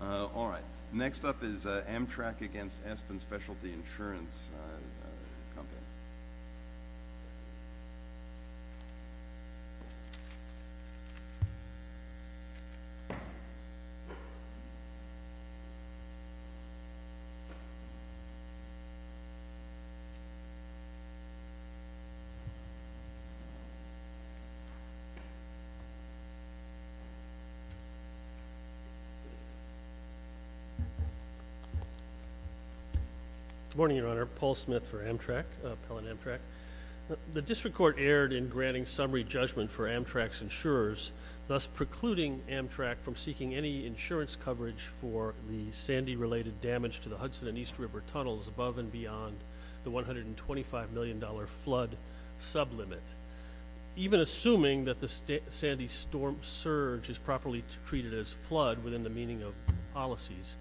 All right, next up is Amtrak against Espen Specialty Insurance Company. Good morning, Your Honor. Paul Smith for Amtrak, Appellant Amtrak. The District Court erred in granting summary judgment for Amtrak's insurers, thus precluding Amtrak from seeking any insurance coverage for the Sandy-related damage to the Hudson and East River Tunnels above and beyond the $125 million flood sublimit. Even assuming that the Sandy storm surge is properly treated as flood within the meaning of policies,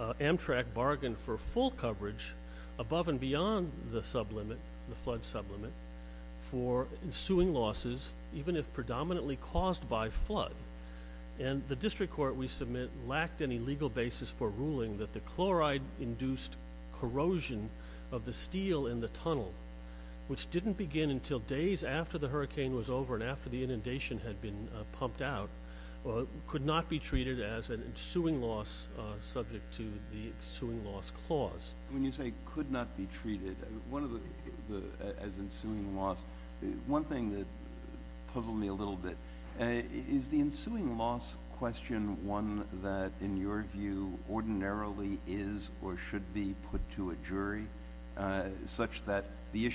Amtrak bargained for full coverage above and beyond the sublimit, the flood sublimit, for ensuing losses, even if predominantly caused by flood. And the District Court, we submit, lacked any legal basis for ruling that the chloride-induced corrosion of the steel in the tunnel, which didn't begin until days after the hurricane was over and after the inundation had been pumped out, could not be treated as an ensuing loss subject to the Ensuing Loss Clause. When you say could not be treated as ensuing loss, one thing that puzzled me a little bit, is the ensuing loss question one that, in your view, ordinarily is or should be put to a jury, such that the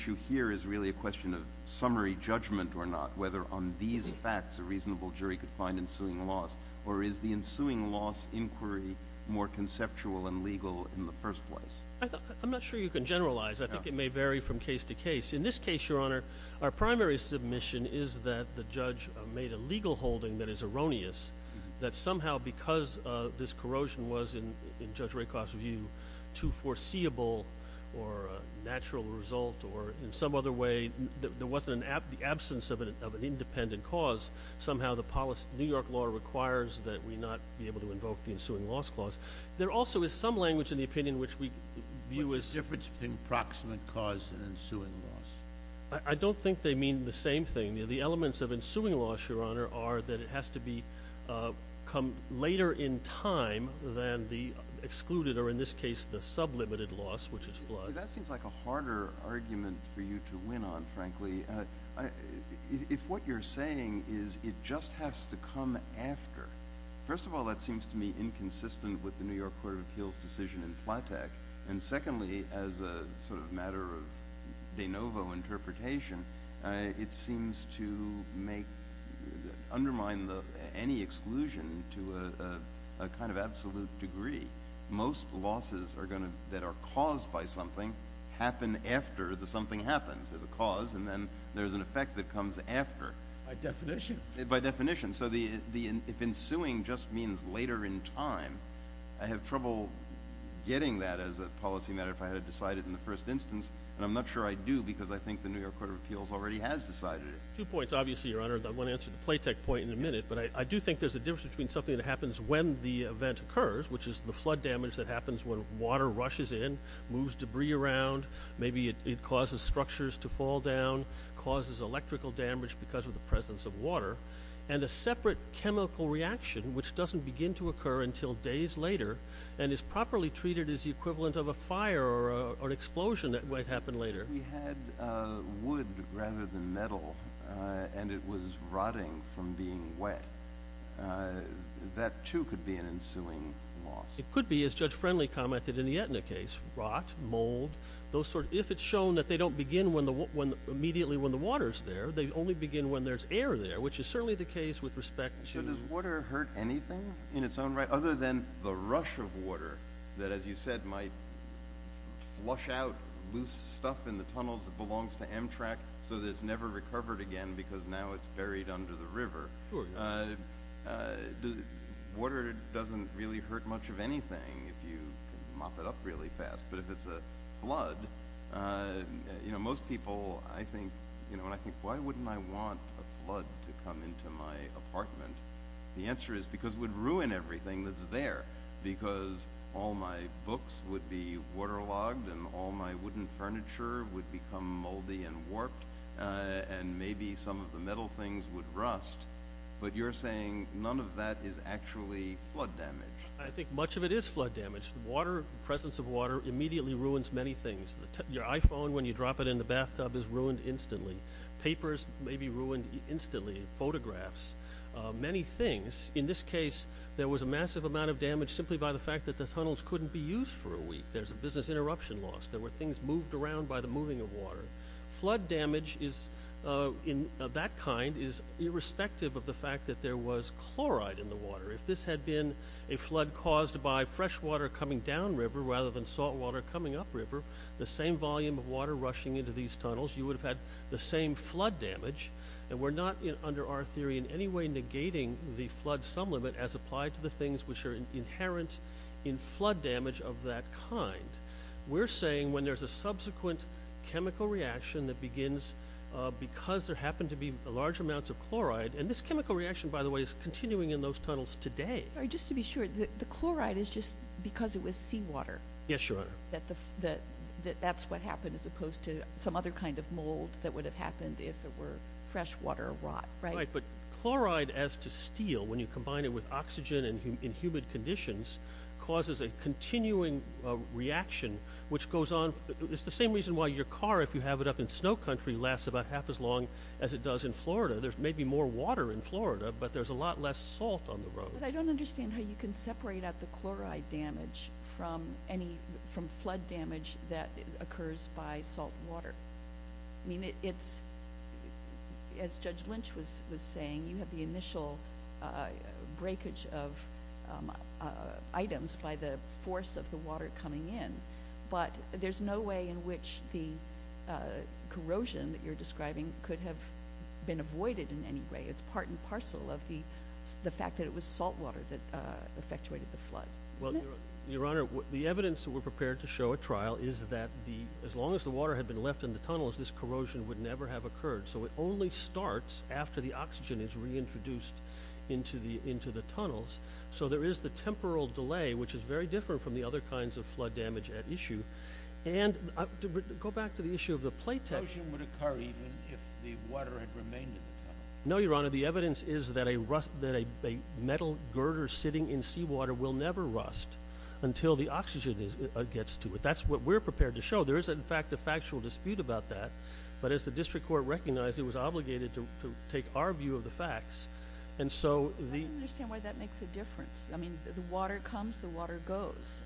summary judgment or not, whether on these facts a reasonable jury could find ensuing loss, or is the ensuing loss inquiry more conceptual and legal in the first place? I'm not sure you can generalize. I think it may vary from case to case. In this case, Your Honor, our primary submission is that the judge made a legal holding that is erroneous, that somehow because this corrosion was, in Judge Rakoff's view, too foreseeable or a loss in the absence of an independent cause, somehow the New York law requires that we not be able to invoke the Ensuing Loss Clause. There also is some language in the opinion which we view as... What's the difference between proximate cause and ensuing loss? I don't think they mean the same thing. The elements of ensuing loss, Your Honor, are that it has to come later in time than the excluded or, in this case, the sublimated loss, which is flood. That seems like a harder argument for you to win on, frankly. If what you're saying is it just has to come after, first of all, that seems to me inconsistent with the New York Court of Appeals' decision in Flatech, and secondly, as a matter of de novo interpretation, it seems to undermine any exclusion to a kind of absolute degree. Most losses that are caused by something happen after the something happens as a cause, and then there's an effect that comes after. By definition. By definition. So if ensuing just means later in time, I have trouble getting that as a policy matter if I had to decide it in the first instance, and I'm not sure I do because I think the New York Court of Appeals already has decided it. Two points, obviously, Your Honor. I'm going to answer the Flatech point in a minute, but I do think there's a difference between something that happens when the event occurs, which is the flood damage that happens when water rushes in, moves debris around, maybe it causes structures to fall down, causes electrical damage because of the presence of water, and a separate chemical reaction which doesn't begin to occur until days later and is properly treated as the equivalent of a fire or an explosion that might happen later. We had wood rather than metal, and it was rotting from being wet. That, too, could be an ensuing loss. It could be, as Judge Friendly commented in the Aetna case. Rot, mold, those sorts. If it's shown that they don't begin immediately when the water's there, they only begin when there's air there, which is certainly the case with respect to— So does water hurt anything in its own right, other than the rush of water that, as you said, might flush out loose stuff in the tunnels that belongs to Amtrak so that it's never recovered again because now it's buried under the river? Sure. Water doesn't really hurt much of anything if you mop it up really fast, but if it's a flood, most people, when I think, why wouldn't I want a flood to come into my apartment? The answer is because it would ruin everything that's there because all my books would be waterlogged and all my wooden furniture would become moldy and warped, and maybe some of the metal things would rust, but you're saying none of that is actually flood damage. I think much of it is flood damage. The presence of water immediately ruins many things. Your iPhone, when you drop it in the bathtub, is ruined instantly. Papers may be ruined instantly. Photographs. Many things. In this case, there was a massive amount of damage simply by the fact that the tunnels couldn't be used for a week. There's a business interruption loss. There were things moved around by the moving of water. Flood damage of that kind is irrespective of the fact that there was chloride in the water. If this had been a flood caused by freshwater coming down river rather than saltwater coming up river, the same volume of water rushing into these tunnels, you would have had the same flood damage. We're not, under our theory, in any way negating the flood sum limit as applied to the things which are happening when there's a subsequent chemical reaction that begins because there happen to be large amounts of chloride. This chemical reaction, by the way, is continuing in those tunnels today. Just to be sure, the chloride is just because it was seawater that that's what happened as opposed to some other kind of mold that would have happened if there were freshwater rot, right? Right. Chloride as to steel, when you combine it with oxygen in humid conditions, causes a continuing reaction which goes on. It's the same reason why your car, if you have it up in snow country, lasts about half as long as it does in Florida. There's maybe more water in Florida, but there's a lot less salt on the road. But I don't understand how you can separate out the chloride damage from flood damage that occurs by saltwater. As Judge Lynch was saying, you have the initial breakage of items by the force of the water coming in, but there's no way in which the corrosion that you're describing could have been avoided in any way. It's part and parcel of the fact that it was saltwater that effectuated the flood, isn't it? Your Honor, the evidence that we're prepared to show at trial is that as long as the water had been left in the tunnels, this corrosion would never have occurred. It only starts after the oxygen is reintroduced into the tunnels. So there is the temporal delay, which is very different from the other kinds of flood damage at issue. And to go back to the issue of the plate... Corrosion would occur even if the water had remained in the tunnels. No, Your Honor. The evidence is that a metal girder sitting in seawater will never rust until the oxygen gets to it. That's what we're prepared to show. There is, in fact, a factual dispute about that. But as the District Court recognized, it was obligated to take our view of the facts. I don't understand why that makes a difference. I mean, the water comes, the water goes.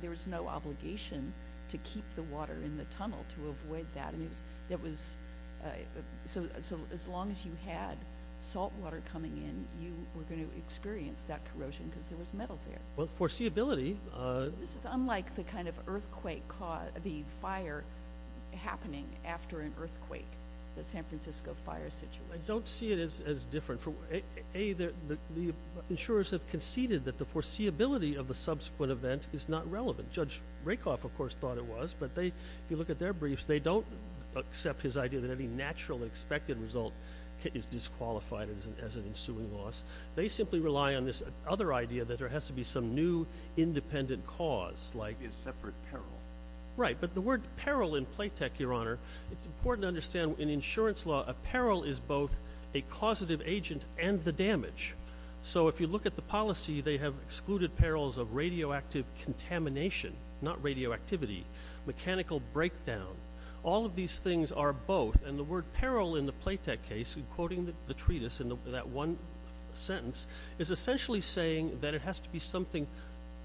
There was no obligation to keep the water in the tunnel, to avoid that. So as long as you had saltwater coming in, you were going to experience that corrosion because there was metal there. Well, foreseeability... This is unlike the kind of earthquake, the fire happening after an earthquake, the San Francisco fire situation. I don't see it as different. A, the insurers have conceded that the foreseeability of the subsequent event is not relevant. Judge Rakoff, of course, thought it was. But if you look at their briefs, they don't accept his idea that any natural expected result is disqualified as an ensuing loss. They simply rely on this other idea that there has to be some new independent cause, like... A separate peril. Right. But the word peril in Playtech, Your Honor, it's important to understand in insurance law, a peril is both a causative agent and the damage. So if you look at the policy, they have excluded perils of radioactive contamination, not radioactivity, mechanical breakdown. All of these things are both. And the word peril in the Playtech case, in quoting the treatise in that one sentence, is essentially saying that it has to be something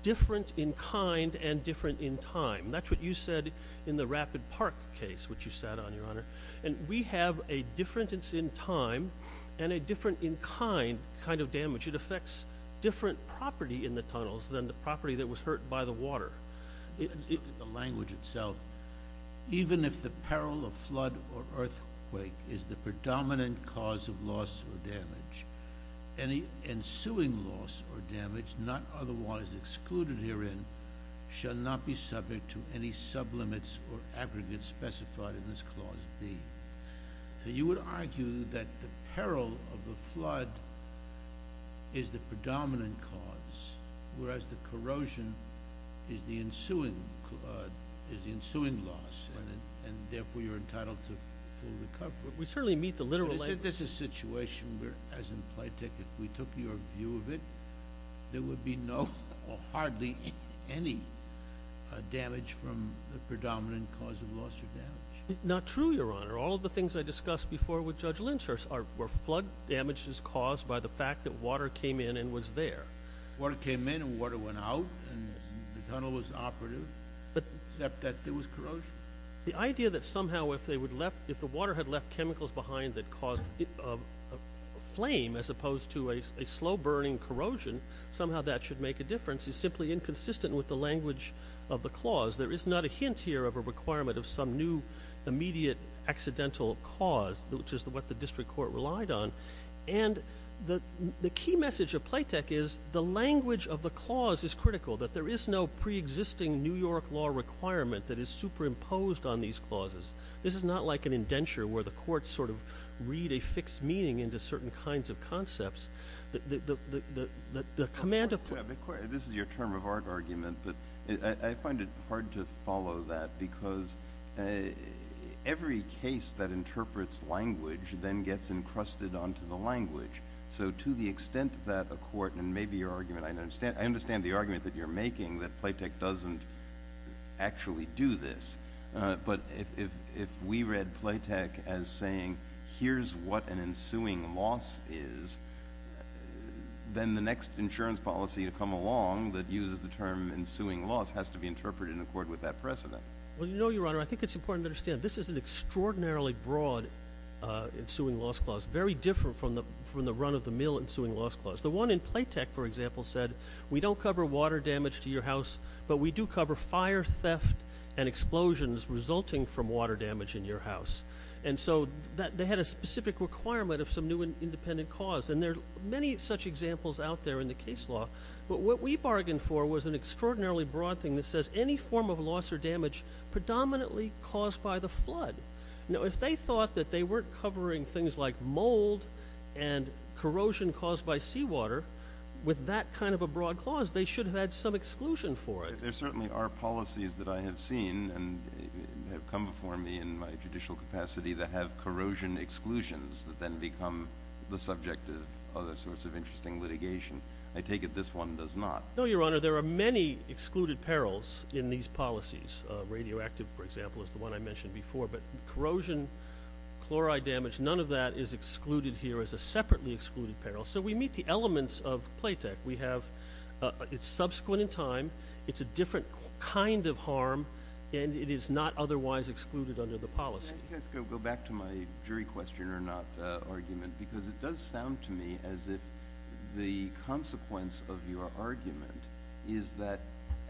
different in kind and different in time. That's what you said in the Rapid Park case, which you sat on, Your Honor. And we have a difference in time and a different in kind kind of damage. It affects different property in the tunnels than the property that was hurt by the water. In the language itself, even if the peril of flood or earthquake is the predominant cause of loss or damage, any ensuing loss or damage, not otherwise excluded herein, shall not be subject to any sublimits or aggregates specified in this Clause B. So you would argue that the peril of the flood is the predominant cause, whereas the corrosion is the ensuing loss, and therefore you're entitled to full recovery. We certainly meet the literal language. But isn't this a situation where, as in Playtech, if we took your view of it, there would be no or hardly any damage from the predominant cause of loss or damage? Not true, Your Honor. All of the things I discussed before with Judge Lynch were flood damages caused by the fact that water came in and was there. Water came in and water went out and the tunnel was operative, except that there was corrosion. The idea that somehow if the water had left chemicals behind that caused a flame as opposed to a slow-burning corrosion, somehow that should make a difference is simply inconsistent with the language of the clause. There is not a hint here of a requirement of some new immediate accidental cause, which is what the District Court relied on. And the key message of Playtech is the language of the clause is critical, that there is no pre-existing New York law requirement that is superimposed on these clauses. This is not like an indenture where the courts sort of read a fixed meaning into certain kinds of concepts. The command of the court— This is your term of art argument, but I find it hard to follow that because every case that interprets language then gets encrusted onto the language. So to the extent that a court—and maybe your argument—I understand the argument that you're making, that Playtech doesn't actually do this. But if we read Playtech as saying, here's what an ensuing loss is, then the next insurance policy to come along that uses the term ensuing loss has to be interpreted in accord with that precedent. Well, you know, Your Honor, I think it's important to understand this is an extraordinarily broad ensuing loss clause, very different from the run-of-the-mill ensuing loss clause. The one in Playtech, for example, said we don't cover water damage to your house, but we do cover fire, theft, and explosions resulting from water damage in your house. And so they had a specific requirement of some new independent cause. And there are many such examples out there in the case law, but what we bargained for was an extraordinarily broad thing that says any form of loss or damage predominantly caused by the flood. Now, if they thought that they weren't covering things like mold and corrosion caused by seawater, with that kind of a broad clause, they should have had some exclusion for it. There certainly are policies that I have seen and have come before me in my judicial capacity that have corrosion exclusions that then become the subject of other sorts of interesting litigation. I take it this one does not. No, Your Honor. There are many excluded perils in these policies. Radioactive, for example, is the one I mentioned before, but corrosion, chloride damage, none of that is excluded here as a separately excluded peril. So we meet the elements of Playtech. We have, it's subsequent in time, it's a different kind of harm, and it is not otherwise excluded under the policy. Can I just go back to my jury question or not argument? Because it does sound to me as if the consequence of your argument is that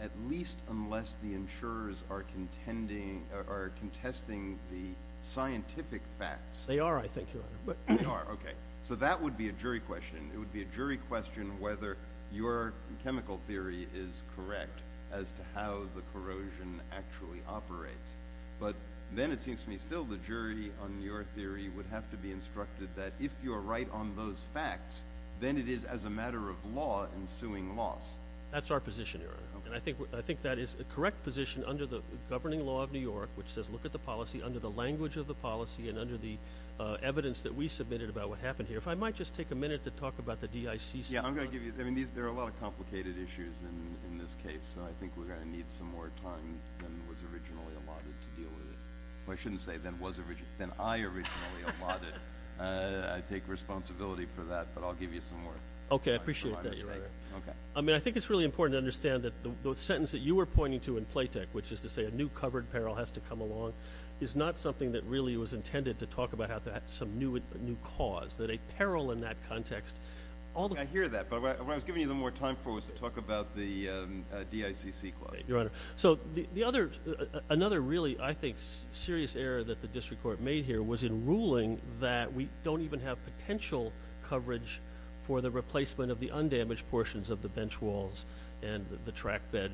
at least unless the insurers are contending or are contesting the scientific facts— They are, I think, Your Honor. They are, okay. So that would be a jury question. It would be a jury question whether your chemical theory is correct as to how the corrosion actually operates. But then it seems to me still the jury on your theory would have to be instructed that if you are right on those facts, then it is as a matter of law ensuing loss. That's our position, Your Honor. Okay. And I think that is a correct position under the governing law of New York, which says look at the policy under the language of the policy and under the evidence that we submitted about what happened here. If I might just take a minute to talk about the DICC— Yeah, I'm going to give you—I mean, there are a lot of complicated issues in this case, so I think we're going to need some more time than was originally allotted to deal with it. Well, I shouldn't say than was originally—than I originally allotted. I take responsibility for that, but I'll give you some more time for my mistake. Okay, I appreciate that, Your Honor. Okay. I mean, I think it's really important to understand that the sentence that you were pointing to in PLATEC, which is to say a new covered peril has to come along, is not something that really was intended to talk about how to add some new cause, that a peril in that context— I hear that, but what I was giving you the more time for was to talk about the DICC clause. Okay, Your Honor. So, the other—another really, I think, serious error that the District Court made here was in ruling that we don't even have potential coverage for the replacement of the undamaged portions of the bench walls and the track bed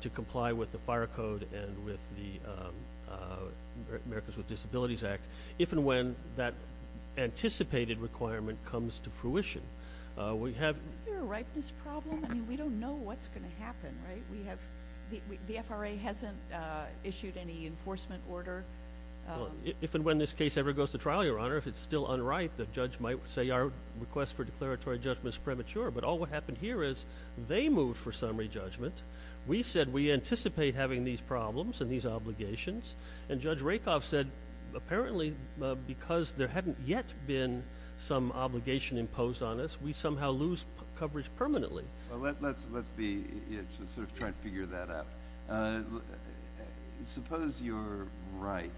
to comply with the Fire Code and with the Americans with Disabilities Act, if and when that anticipated requirement comes to fruition. We have— The FRA hasn't issued any enforcement order. If and when this case ever goes to trial, Your Honor, if it's still unright, the judge might say our request for declaratory judgment is premature, but all that happened here is they moved for summary judgment. We said we anticipate having these problems and these obligations, and Judge Rakoff said, apparently, because there hadn't yet been some obligation imposed on us, we somehow lose coverage permanently. Well, let's be—sort of try to figure that out. Suppose you're right.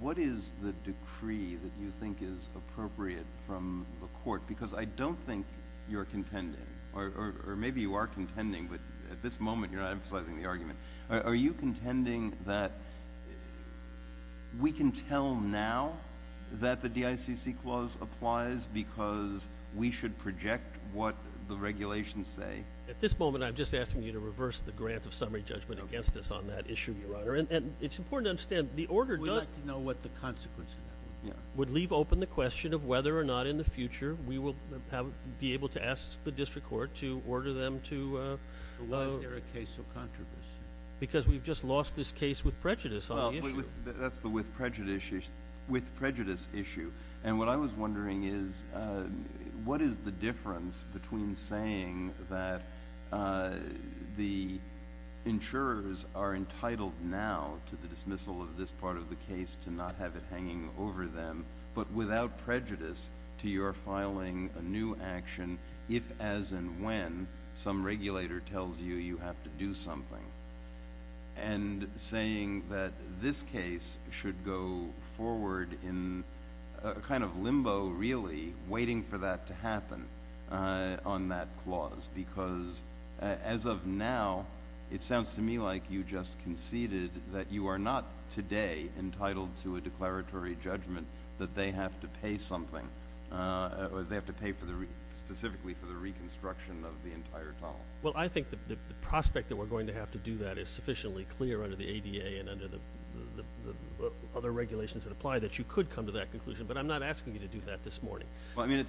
What is the decree that you think is appropriate from the Court? Because I don't think you're contending, or maybe you are contending, but at this moment, you're not emphasizing the argument. Are you contending that we can tell now that the DICC clause applies because we should project what the regulations say? At this moment, I'm just asking you to reverse the grant of summary judgment against us on that issue, Your Honor, and it's important to understand, the order— We'd like to know what the consequences are. Would leave open the question of whether or not, in the future, we will be able to ask the District Court to order them to— Why is Eric Case so controversial? Because we've just lost this case with prejudice on the issue. That's the with prejudice issue. And what I was wondering is, what is the difference between saying that the insurers are entitled now to the dismissal of this part of the case to not have it hanging over them, but without prejudice, to your filing a new action if as and when some regulator tells you you have to do something, and saying that this case should go forward in a kind of limbo, really, waiting for that to happen on that clause? Because as of now, it sounds to me like you just conceded that you are not today entitled to a declaratory judgment that they have to pay something, or they have to pay specifically for the reconstruction of the entire tunnel. Well, I think that the prospect that we're going to have to do that is sufficiently clear under the ADA and under the other regulations that apply that you could come to that conclusion, but I'm not asking you to do that this morning. Well, I mean,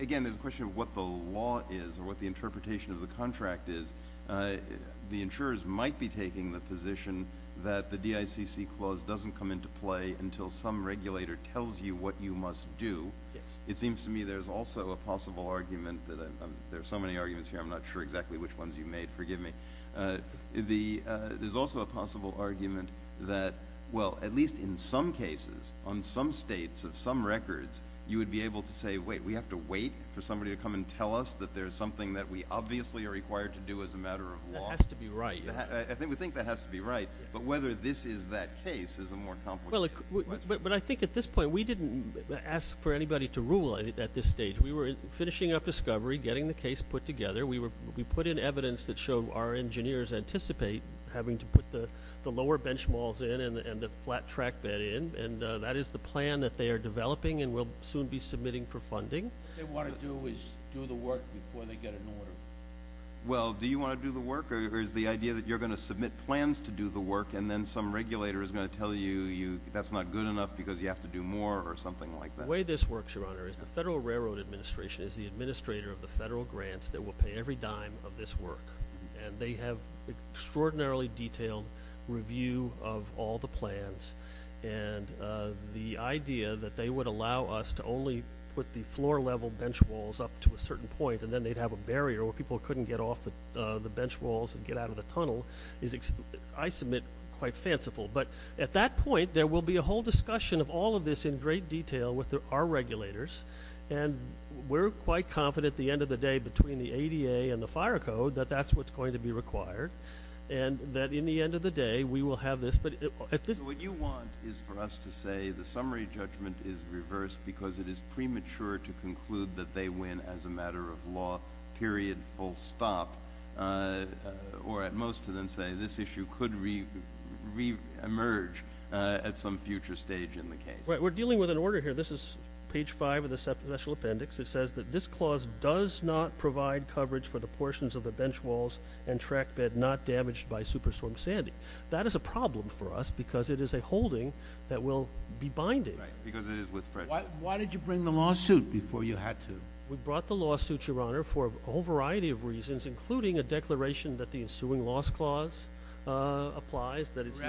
again, there's a question of what the law is, or what the interpretation of the contract is. The insurers might be taking the position that the DICC clause doesn't come into play until some regulator tells you what you must do. It seems to me there's also a possible argument that – there are so many arguments here, I'm not sure exactly which ones you made, forgive me. There's also a possible argument that, well, at least in some cases, on some states of some records, you would be able to say, wait, we have to wait for somebody to come and tell us that there's something that we obviously are required to do as a matter of law? That has to be right. I think we think that has to be right, but whether this is that case is a more complicated question. But I think at this point, we didn't ask for anybody to rule at this stage. We were finishing up discovery, getting the case put together. We put in evidence that showed our engineers anticipate having to put the lower benchmalls in and the flat track bed in, and that is the plan that they are developing and will soon be submitting for funding. What they want to do is do the work before they get an order. Well, do you want to do the work, or is the idea that you're going to submit plans to do the work and then some regulator is going to tell you that's not good enough because you have to do more or something like that? The way this works, Your Honor, is the Federal Railroad Administration is the administrator of the federal grants that will pay every dime of this work, and they have extraordinarily detailed review of all the plans, and the idea that they would allow us to only put the floor-level benchmalls up to a certain point and then they'd have a barrier where people couldn't get off the benchmalls and get out of the tunnel is, I submit, quite fanciful. But at that point, there will be a whole discussion of all of this in great detail with our regulators, and we're quite confident at the end of the day between the ADA and the fire code that that's what's going to be required and that in the end of the day, we will have this. So what you want is for us to say the summary judgment is reversed because it is premature to conclude that they win as a matter of law, period, full stop, or at most to then say this issue could reemerge at some future stage in the case? Right. We're dealing with an order here. This is page five of the special appendix. It says that this clause does not provide coverage for the portions of the benchmalls and trackbed not damaged by superstorm Sandy. That is a problem for us because it is a holding that will be binding. Right, because it is with French. Why did you bring the lawsuit before you had to? We brought the lawsuit, Your Honor, for a whole variety of reasons, including a declaration that the ensuing loss clause applies, that it's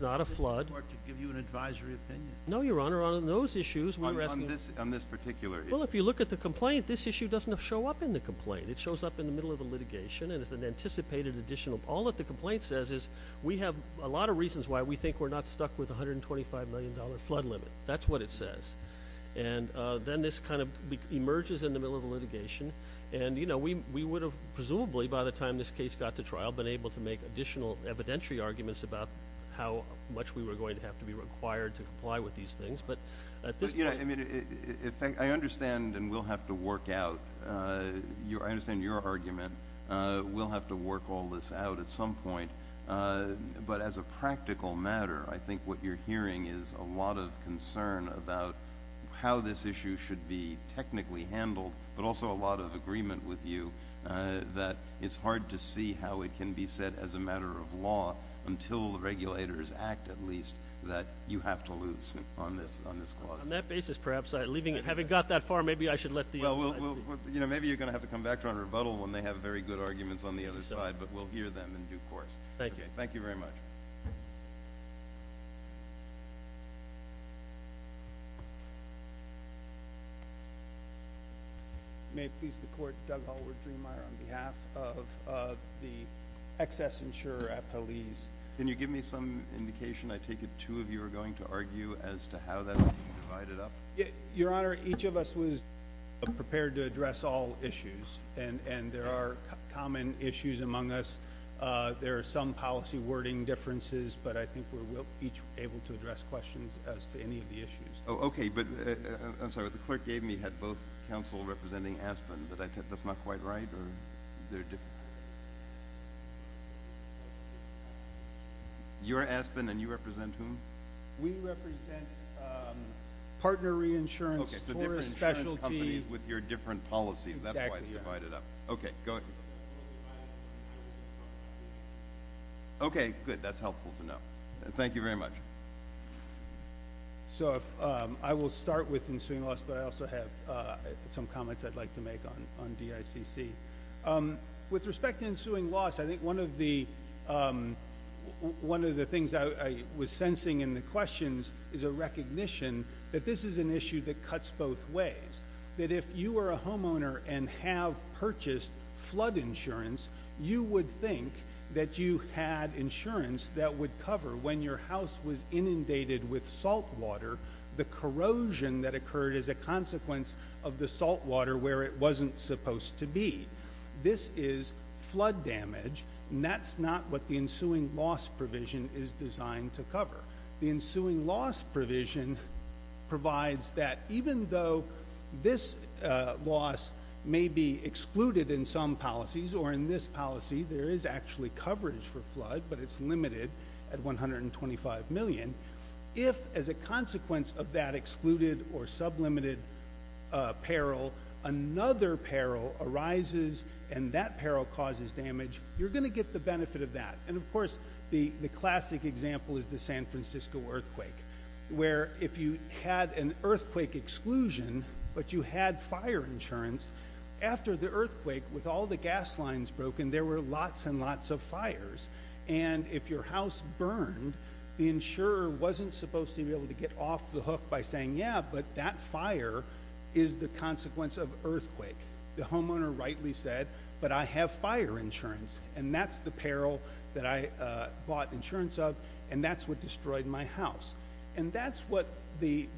not a flood. We're asking the District Court to give you an advisory opinion. No, Your Honor. On those issues, we were asking... On this particular issue. Well, if you look at the complaint, this issue doesn't show up in the complaint. It shows up in the middle of the litigation, and it's an anticipated additional... All that the complaint says is, we have a lot of reasons why we think we're not stuck with $125 million flood limit. That's what it says. Then this kind of emerges in the middle of the litigation. We would have, presumably, by the time this case got to trial, been able to make additional evidentiary arguments about how much we were going to have to be required to comply with these things. At this point... I mean, I understand, and we'll have to work out, I understand your argument, we'll have to work all this out at some point. But as a practical matter, I think what you're hearing is a lot of concern about how this issue should be technically handled, but also a lot of agreement with you that it's hard to see how it can be set as a matter of law until the regulators act, at least, that you have to lose on this clause. On that basis, perhaps, I'm leaving it. Having got that far, maybe I should let the other side speak. Maybe you're going to have to come back to our rebuttal when they have very good arguments on the other side, but we'll hear them in due course. Thank you. Thank you very much. May it please the Court, Doug Hallward-Drehenmeyer on behalf of the excess insurer at Paliz. Can you give me some indication, I take it two of you are going to argue, as to how that can be divided up? Your Honor, each of us was prepared to address all issues, and there are common issues among us. There are some policy wording differences, but I think we're each able to address questions as to any of the issues. Oh, okay. But I'm sorry, what the clerk gave me had both counsel representing Aspen, but I take that's not quite right, or they're different? You're Aspen, and you represent whom? We represent partner reinsurance, tourist specialty. Okay, so different insurance companies with your different policies, that's why it's divided up. Exactly, yeah. Okay. Go ahead. Okay. Good. That's helpful to know. Thank you very much. So I will start with ensuing loss, but I also have some comments I'd like to make on DICC. With respect to ensuing loss, I think one of the things I was sensing in the questions is a recognition that this is an issue that cuts both ways, that if you were a homeowner and have purchased flood insurance, you would think that you had insurance that would cover, when your house was inundated with saltwater, the corrosion that occurred as a consequence of the saltwater where it wasn't supposed to be. This is flood damage, and that's not what the ensuing loss provision is designed to cover. The ensuing loss provision provides that even though this loss may be excluded in some policies, or in this policy, there is actually coverage for flood, but it's limited at $125 million, if as a consequence of that excluded or sublimited peril, another peril arises, and that peril causes damage, you're going to get the benefit of that. And of course, the classic example is the San Francisco earthquake, where if you had an earthquake exclusion, but you had fire insurance, after the earthquake, with all the gas lines broken, there were lots and lots of fires. And if your house burned, the insurer wasn't supposed to be able to get off the hook by saying, yeah, but that fire is the consequence of earthquake. The homeowner rightly said, but I have fire insurance, and that's the peril that I bought insurance of, and that's what destroyed my house. And that's what the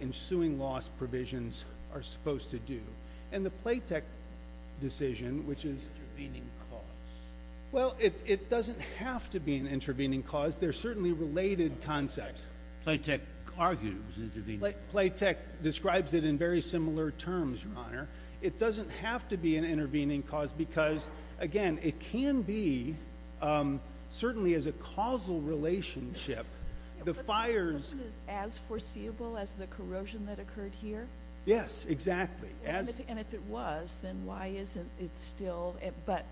ensuing loss provisions are supposed to do. And the Playtech decision, which is... Intervening costs. Well, it doesn't have to be an intervening cause. They're certainly related concepts. Playtech argues intervening costs. Playtech describes it in very similar terms, Your Honor. It doesn't have to be an intervening cause because, again, it can be, certainly as a causal relationship, the fires... But the question is, as foreseeable as the corrosion that occurred here? Yes, exactly. And if it was, then why isn't it still... But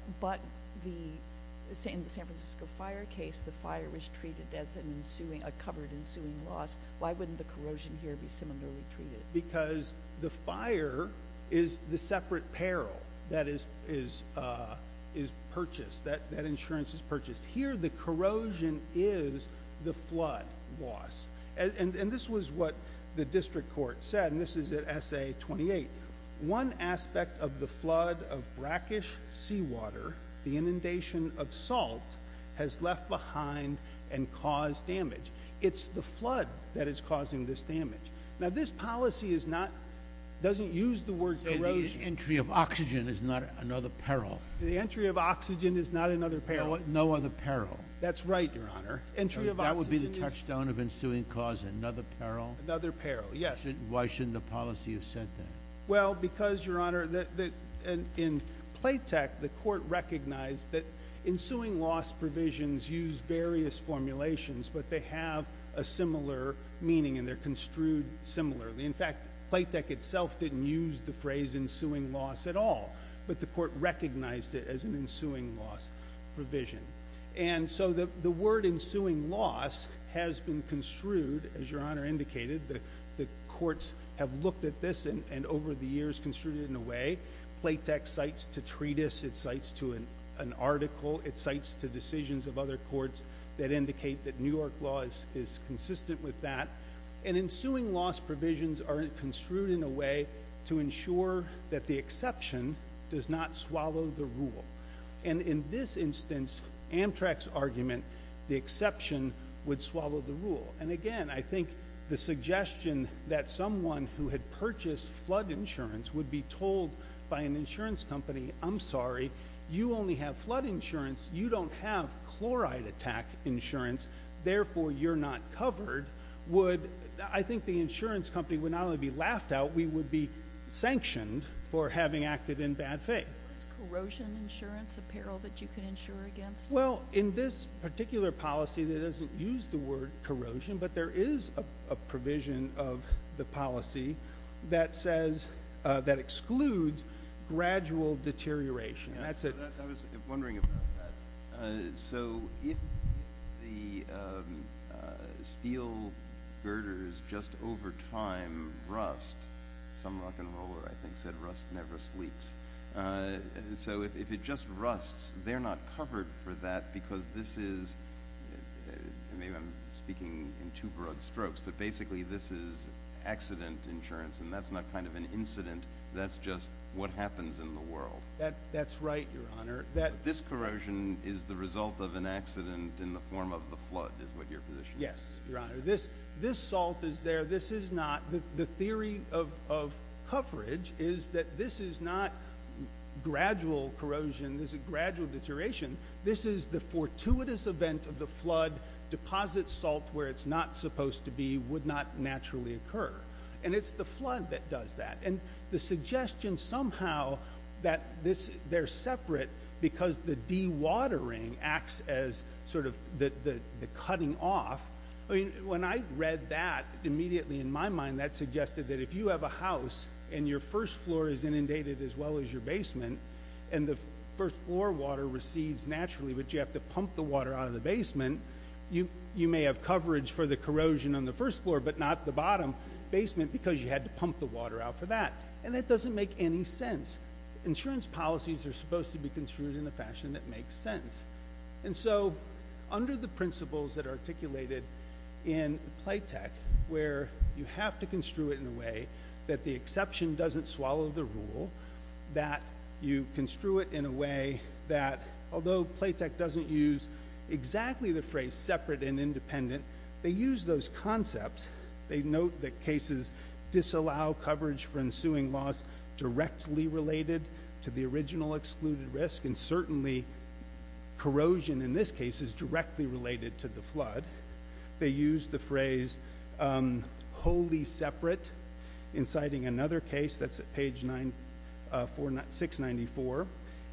in the San Francisco fire case, the fire was treated as a covered ensuing loss. Why wouldn't the corrosion here be similarly treated? Because the fire is the separate peril that is purchased, that insurance is purchased. Here the corrosion is the flood loss. And this was what the district court said, and this is at SA 28. One aspect of the flood of brackish seawater, the inundation of salt, has left behind and caused damage. It's the flood that is causing this damage. Now, this policy is not... Doesn't use the word... So the entry of oxygen is not another peril. The entry of oxygen is not another peril. No other peril. That's right, Your Honor. Entry of oxygen is... That would be the touchstone of ensuing cause, another peril? Another peril, yes. Why shouldn't the policy have said that? Well, because, Your Honor, in PLATEC, the court recognized that ensuing loss provisions use various formulations, but they have a similar meaning and they're construed similarly. In fact, PLATEC itself didn't use the phrase ensuing loss at all, but the court recognized it as an ensuing loss provision. And so the word ensuing loss has been construed, as Your Honor indicated, the courts have looked at this and over the years construed it in a way. PLATEC cites to treatise, it cites to an article, it cites to decisions of other courts that indicate that New York law is consistent with that. And ensuing loss provisions are construed in a way to ensure that the exception does not swallow the rule. And in this instance, Amtrak's argument, the exception would swallow the rule. And again, I think the suggestion that someone who had purchased flood insurance would be told by an insurance company, I'm sorry, you only have flood insurance, you don't have chloride attack insurance, therefore you're not covered, would, I think the insurance company would not only be laughed out, we would be sanctioned for having acted in bad faith. Is corrosion insurance apparel that you can insure against? Well, in this particular policy, it doesn't use the word corrosion, but there is a provision of the policy that says, that excludes gradual deterioration. I was wondering about that. So if the steel girders just over time, rust, some rock and roller I think said rust never sleeps. So if it just rusts, they're not covered for that because this is, maybe I'm speaking in two broad strokes, but basically this is accident insurance and that's not kind of an incident, that's just what happens in the world. That's right, your honor. This corrosion is the result of an accident in the form of the flood is what your position is. Yes, your honor. This salt is there, this is not. The theory of coverage is that this is not gradual corrosion, this is gradual deterioration, this is the fortuitous event of the flood, deposits salt where it's not supposed to be, would not naturally occur. And it's the flood that does that. And the suggestion somehow that they're separate because the dewatering acts as sort of the And I read that immediately in my mind that suggested that if you have a house and your first floor is inundated as well as your basement and the first floor water recedes naturally but you have to pump the water out of the basement, you may have coverage for the corrosion on the first floor but not the bottom basement because you had to pump the water out for that. And that doesn't make any sense. Insurance policies are supposed to be construed in a fashion that makes sense. And so under the principles that are articulated in Playtech where you have to construe it in a way that the exception doesn't swallow the rule, that you construe it in a way that although Playtech doesn't use exactly the phrase separate and independent, they use those concepts. They note that cases disallow coverage for ensuing loss directly related to the original excluded risk and certainly corrosion in this case is directly related to the flood. They use the phrase wholly separate in citing another case, that's at page 694.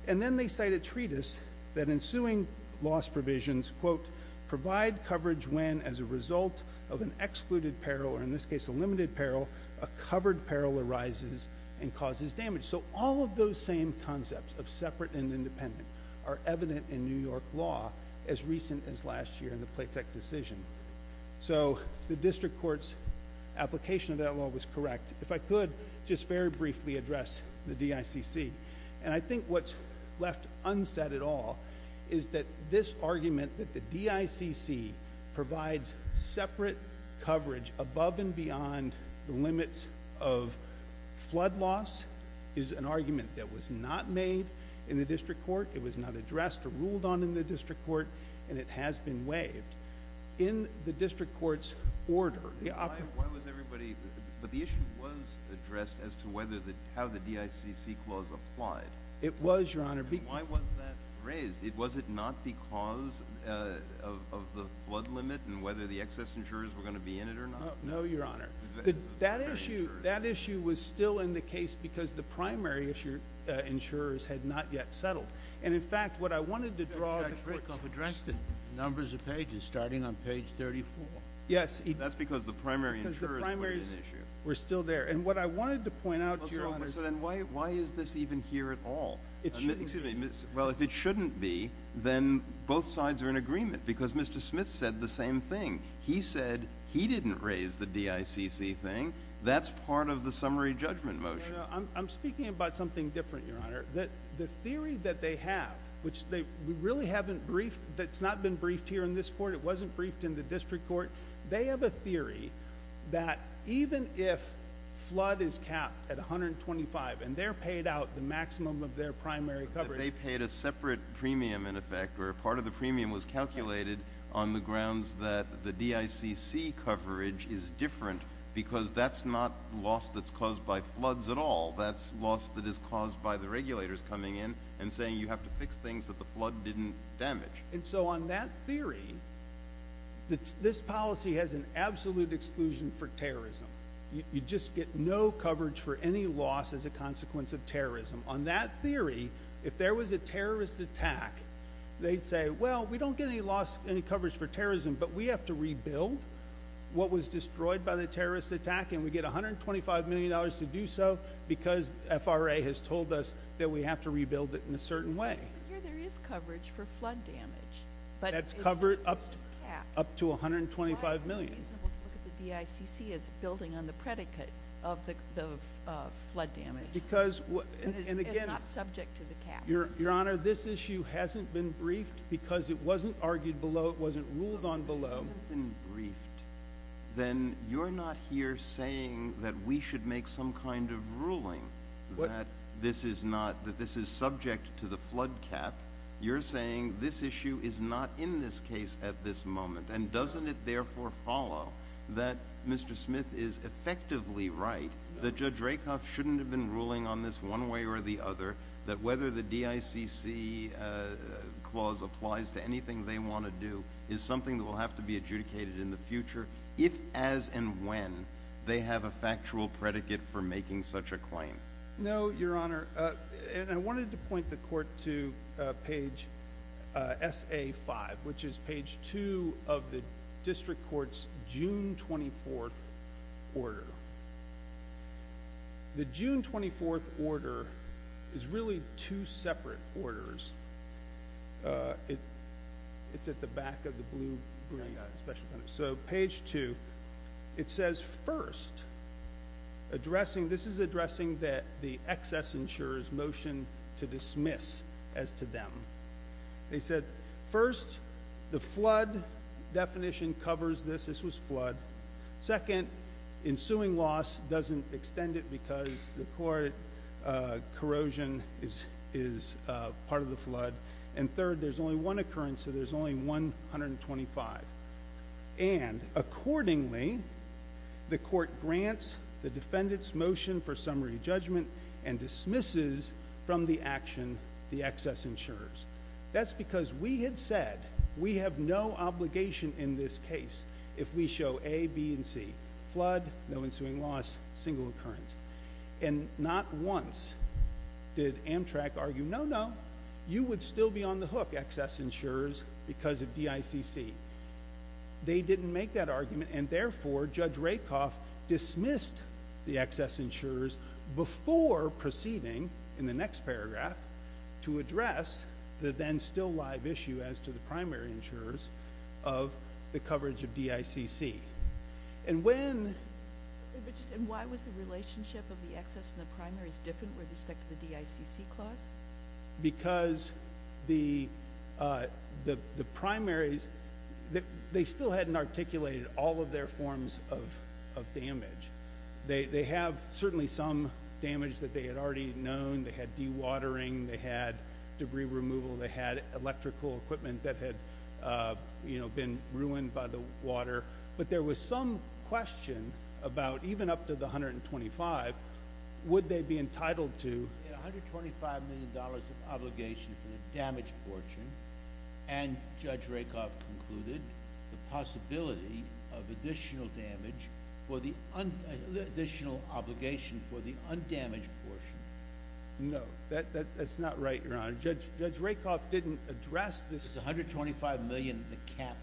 And then they cite a treatise that ensuing loss provisions, quote, provide coverage when as a result of an excluded peril or in this case a limited peril, a covered peril arises and causes damage. So all of those same concepts of separate and independent are evident in New York law as recent as last year in the Playtech decision. So the district court's application of that law was correct. If I could just very briefly address the DICC. And I think what's left unsaid at all is that this argument that the DICC provides separate coverage above and beyond the limits of flood loss is an argument that was not made in the district court. It was not addressed or ruled on in the district court and it has been waived. In the district court's order, the operative... Why was everybody... but the issue was addressed as to whether the... how the DICC clause applied. It was, Your Honor. Why was that raised? Was it not because of the flood limit and whether the excess insurers were going to be in it or not? No, Your Honor. That issue was still in the case because the primary insurers had not yet settled. And in fact, what I wanted to draw... The district court addressed it, numbers of pages, starting on page 34. Yes. That's because the primary insurers... Because the primaries...... were in the issue.... were still there. And what I wanted to point out, Your Honor... Well, so then why is this even here at all? It shouldn't be. Then both sides are in agreement because Mr. Smith said the same thing. He said he didn't raise the DICC thing. That's part of the summary judgment motion. I'm speaking about something different, Your Honor. The theory that they have, which they really haven't briefed... that's not been briefed here in this court. It wasn't briefed in the district court. They have a theory that even if flood is capped at 125 and they're paid out the maximum of their primary coverage... They paid a separate premium, in effect, or part of the premium was calculated on the grounds that the DICC coverage is different because that's not loss that's caused by floods at all. That's loss that is caused by the regulators coming in and saying you have to fix things that the flood didn't damage. And so on that theory, this policy has an absolute exclusion for terrorism. On that theory, if there was a terrorist attack, they'd say, well, we don't get any loss... any coverage for terrorism, but we have to rebuild what was destroyed by the terrorist attack and we get $125 million to do so because FRA has told us that we have to rebuild it in a certain way. But here there is coverage for flood damage, but... That's covered up to $125 million. Why is it reasonable to look at the DICC as building on the predicate of the flood damage? Because... It's not subject to the cap. Your Honor, this issue hasn't been briefed because it wasn't argued below, it wasn't ruled on below. If it hasn't been briefed, then you're not here saying that we should make some kind of ruling that this is not... that this is subject to the flood cap. You're saying this issue is not in this case at this moment and doesn't it therefore follow that Mr. Smith is effectively right, that Judge Rakoff shouldn't have been ruling on this one way or the other, that whether the DICC clause applies to anything they want to do is something that will have to be adjudicated in the future if, as, and when, they have a factual predicate for making such a claim? No, Your Honor, and I wanted to point the Court to page SA5, which is page 2 of the District Court's June 24th order. The June 24th order is really two separate orders. It's at the back of the blue... So page 2, it says, first, addressing... this is addressing that the excess insurer's motion to dismiss as to them. They said, first, the flood definition covers this. This was flood. Second, ensuing loss doesn't extend it because the corrosion is part of the flood. And third, there's only one occurrence, so there's only 125. And accordingly, the Court grants the defendant's motion for summary judgment and dismisses from the action the excess insurers. That's because we had said we have no obligation in this case if we show A, B, and C, flood, no ensuing loss, single occurrence. And not once did Amtrak argue, no, no, you would still be on the hook, excess insurers, because of DICC. They didn't make that argument, and therefore, Judge Rakoff dismissed the excess insurers before proceeding in the next paragraph to address the then still live issue as to the primary insurers of the coverage of DICC. And when... And why was the relationship of the excess and the primaries different with respect to the DICC clause? Because the primaries, they still hadn't articulated all of their forms of damage. They have certainly some damage that they had already known. They had dewatering. They had debris removal. They had electrical equipment that had, you know, been ruined by the water. But there was some question about, even up to the 125, would they be entitled to... $125 million of obligation for the damage portion, and Judge Rakoff concluded the possibility of additional damage for the... additional obligation for the undamaged portion. No, that's not right, Your Honor. Judge Rakoff didn't address this... It's $125 million, the cap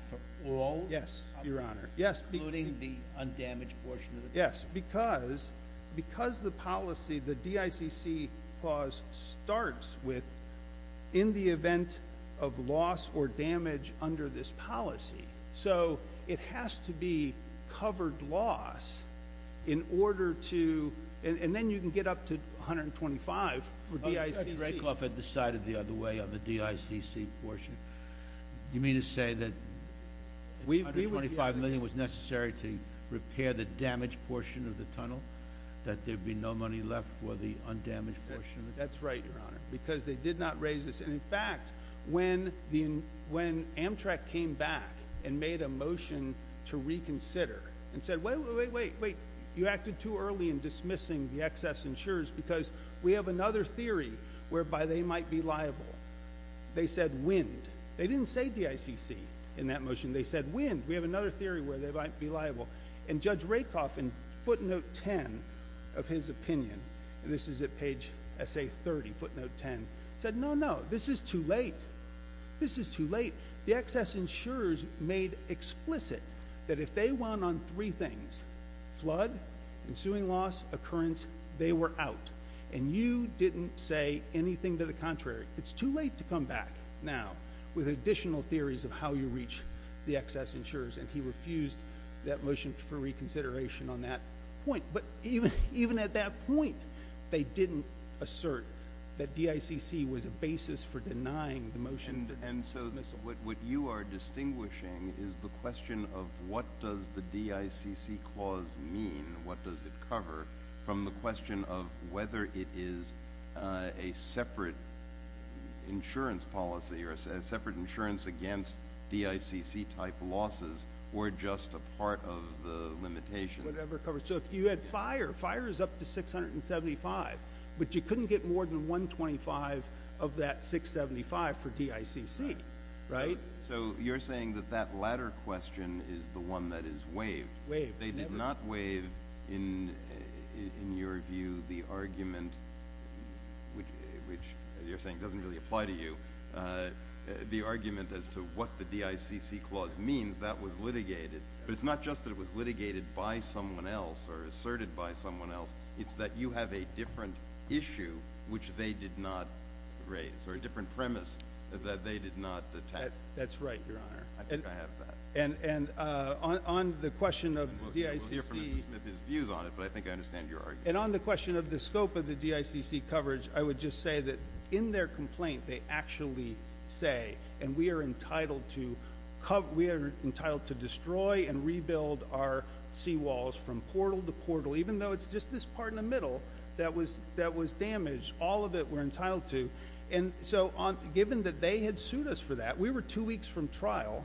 for all... Yes, Your Honor.... including the undamaged portion of the... Yes, because the policy, the DICC clause starts with, in the event of loss or damage under this policy. So, it has to be covered loss in order to... and then you can get up to $125 for DICC. Judge Rakoff had decided the other way on the DICC portion. Do you mean to say that $125 million was necessary to repair the damaged portion of the tunnel, that there'd be no money left for the undamaged portion? That's right, Your Honor, because they did not raise this. In fact, when Amtrak came back and made a motion to reconsider and said, wait, wait, wait, wait, you acted too early in dismissing the excess insurers because we have another theory whereby they might be liable. They said, wind. They didn't say DICC in that motion. They said, wind. We have another theory where they might be liable. And Judge Rakoff, in footnote 10 of his opinion, and this is at page SA30, footnote 10, said, no, no, this is too late. This is too late. The excess insurers made explicit that if they went on three things, flood, ensuing loss, occurrence, they were out. And you didn't say anything to the contrary. It's too late to come back now with additional theories of how you reach the excess insurers. And he refused that motion for reconsideration on that point. But even at that point, they didn't assert that DICC was a basis for denying the motion for dismissal. And so what you are distinguishing is the question of what does the DICC clause mean, what does it cover, from the question of whether it is a separate insurance policy or a separate insurance against DICC-type losses or just a part of the limitations. Whatever it covers. So if you had fire, fire is up to 675, but you couldn't get more than 125 of that 675 for DICC, right? So you're saying that that latter question is the one that is waived. Waived. They did not waive, in your view, the argument, which, as you're saying, doesn't really apply to you, the argument as to what the DICC clause means. That was litigated. But it's not just that it was litigated by someone else or asserted by someone else. It's that you have a different issue, which they did not raise, or a different premise that they did not attack. That's right, Your Honor. I think I have that. And on the question of DICC— We'll hear from Mr. Smith his views on it, but I think I understand your argument. And on the question of the scope of the DICC coverage, I would just say that in their complaint, they actually say, and we are entitled to destroy and rebuild our seawalls from portal to portal, even though it's just this part in the middle that was damaged. All of it we're entitled to. And so, given that they had sued us for that, we were two weeks from trial.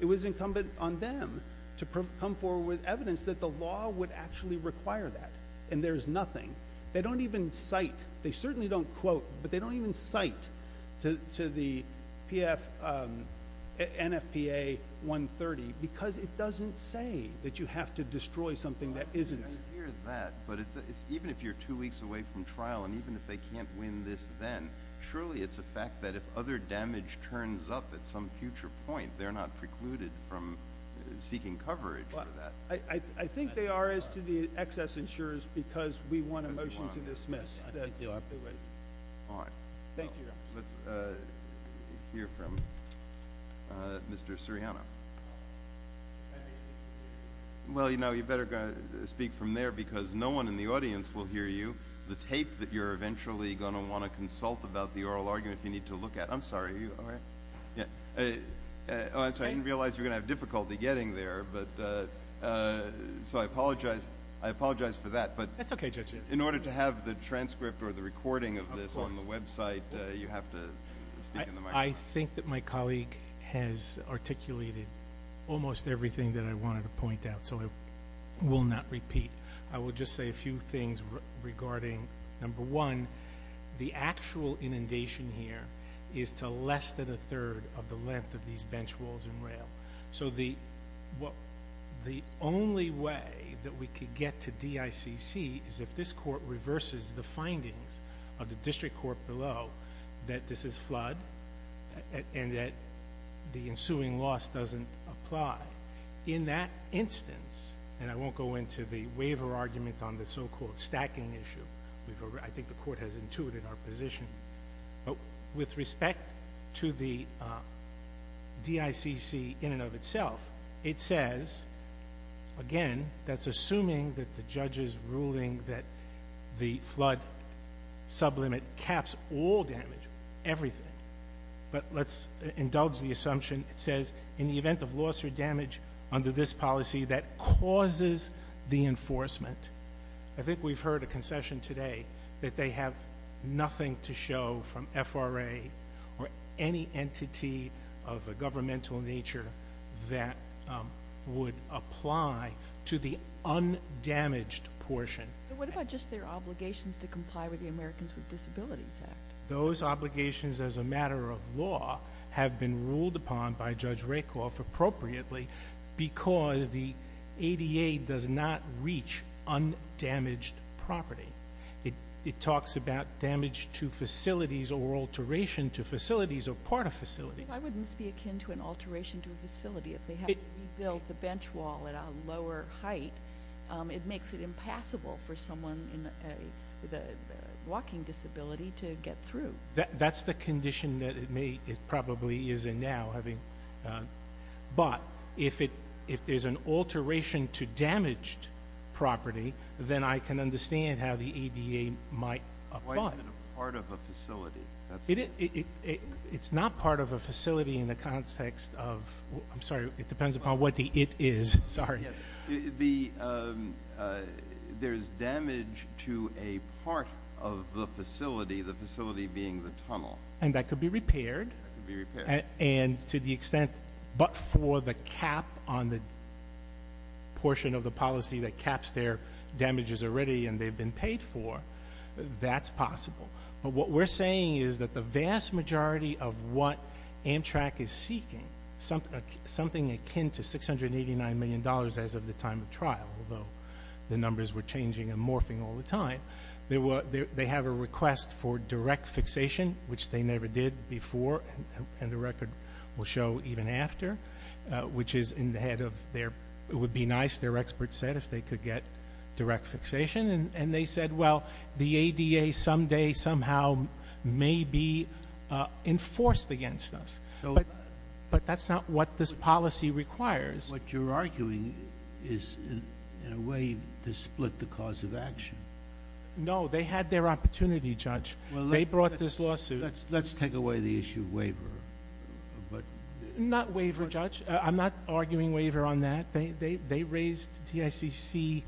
It was incumbent on them to come forward with evidence that the law would actually require that. And there's nothing. They don't even cite—they certainly don't quote, but they don't even cite to the NFPA 130 because it doesn't say that you have to destroy something that isn't. I hear that, but even if you're two weeks away from trial and even if they can't win this then, surely it's a fact that if other damage turns up at some future point, they're not precluded from seeking coverage for that. I think they are as to the excess insurers because we want a motion to dismiss. Thank you. All right. Thank you. Let's hear from Mr. Suriano. Well, you know, you better speak from there because no one in the audience will hear you. The tape that you're eventually going to want to consult about the oral argument, you need to look at. I'm sorry. Are you all right? I'm sorry. I didn't realize you were going to have difficulty getting there, but—so I apologize. I apologize for that. That's okay, Judge. In order to have the transcript or the recording of this on the website, you have to speak in the microphone. I think that my colleague has articulated almost everything that I wanted to point out, so I will not repeat. I will just say a few things regarding, number one, the actual inundation here is to less than a third of the length of these bench walls and rail. So the only way that we could get to DICC is if this court reverses the findings of the district court below that this is flood and that the ensuing loss doesn't apply. In that instance, and I won't go into the waiver argument on the so-called stacking issue. I think the court has intuited our position. With respect to the DICC in and of itself, it says, again, that's assuming that the judges ruling that the flood sublimit caps all damage, everything, but let's indulge the assumption. It says, in the event of loss or damage under this policy that causes the enforcement, I believe in session today, that they have nothing to show from FRA or any entity of a governmental nature that would apply to the undamaged portion. What about just their obligations to comply with the Americans with Disabilities Act? Those obligations as a matter of law have been ruled upon by Judge Rakoff appropriately because the ADA does not reach undamaged property. It talks about damage to facilities or alteration to facilities or part of facilities. Why wouldn't this be akin to an alteration to a facility if they have rebuilt the bench wall at a lower height? It makes it impassable for someone with a walking disability to get through. That's the condition that it probably is in now. But if there's an alteration to damaged property, then I can understand how the ADA might apply. Why is it a part of a facility? It's not part of a facility in the context of, I'm sorry, it depends upon what the it is. Sorry. Yes, there's damage to a part of the facility, the facility being the tunnel. And that could be repaired? That could be repaired. And to the extent, but for the cap on the portion of the policy that caps their damages already and they've been paid for, that's possible. But what we're saying is that the vast majority of what Amtrak is seeking, something akin to $689 million as of the time of trial, although the numbers were changing and morphing all the time. They have a request for direct fixation, which they never did before, and the record will show even after, which is in the head of their, it would be nice, their experts said, if they could get direct fixation. And they said, well, the ADA someday somehow may be enforced against us. But that's not what this policy requires. What you're arguing is in a way to split the cause of action. No, they had their opportunity, Judge. They brought this lawsuit. Let's take away the issue of waiver. Not waiver, Judge. I'm not arguing waiver on that. They raised TICC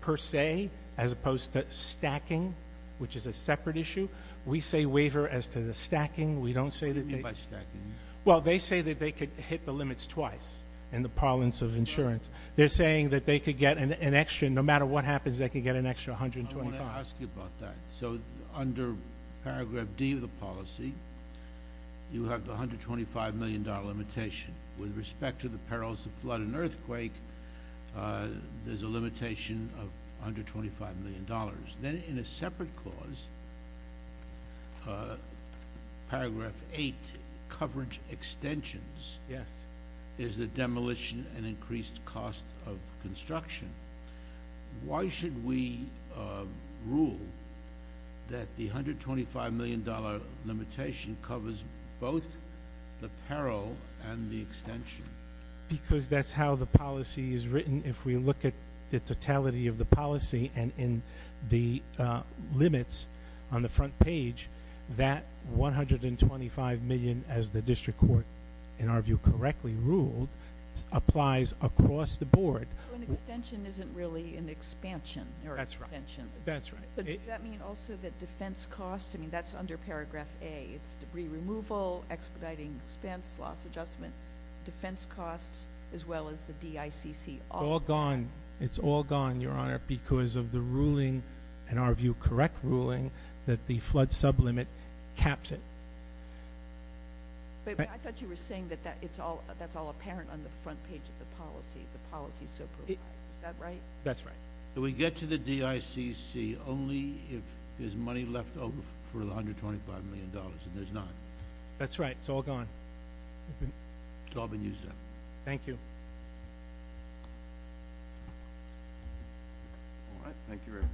per se as opposed to stacking, which is a separate issue. We say waiver as to the stacking. We don't say that they- What do you mean by stacking? Well, they say that they could hit the limits twice in the parlance of insurance. They're saying that they could get an extra, no matter what happens, they could get an extra $125. I want to ask you about that. So under paragraph D of the policy, you have the $125 million limitation. With respect to the perils of flood and earthquake, there's a limitation of $125 million. Then in a separate clause, paragraph 8, coverage extensions, is the demolition and increased cost of construction. Why should we rule that the $125 million limitation covers both the peril and the extension? Because that's how the policy is written. If we look at the totality of the policy and the limits on the front page, that $125 million, as the district court, in our view, correctly ruled, applies across the board. An extension isn't really an expansion or extension. That's right. Does that mean also that defense costs, that's under paragraph A. It's debris removal, expediting expense, loss adjustment. Defense costs, as well as the DICC, all gone. It's all gone, Your Honor, because of the ruling, in our view, correct ruling, that the flood sublimit caps it. I thought you were saying that that's all apparent on the front page of the policy. The policy supervises. Is that right? That's right. So we get to the DICC only if there's money left over for the $125 million and there's not. That's right. It's all gone. It's all been used up. Thank you. All right. Thank you very much.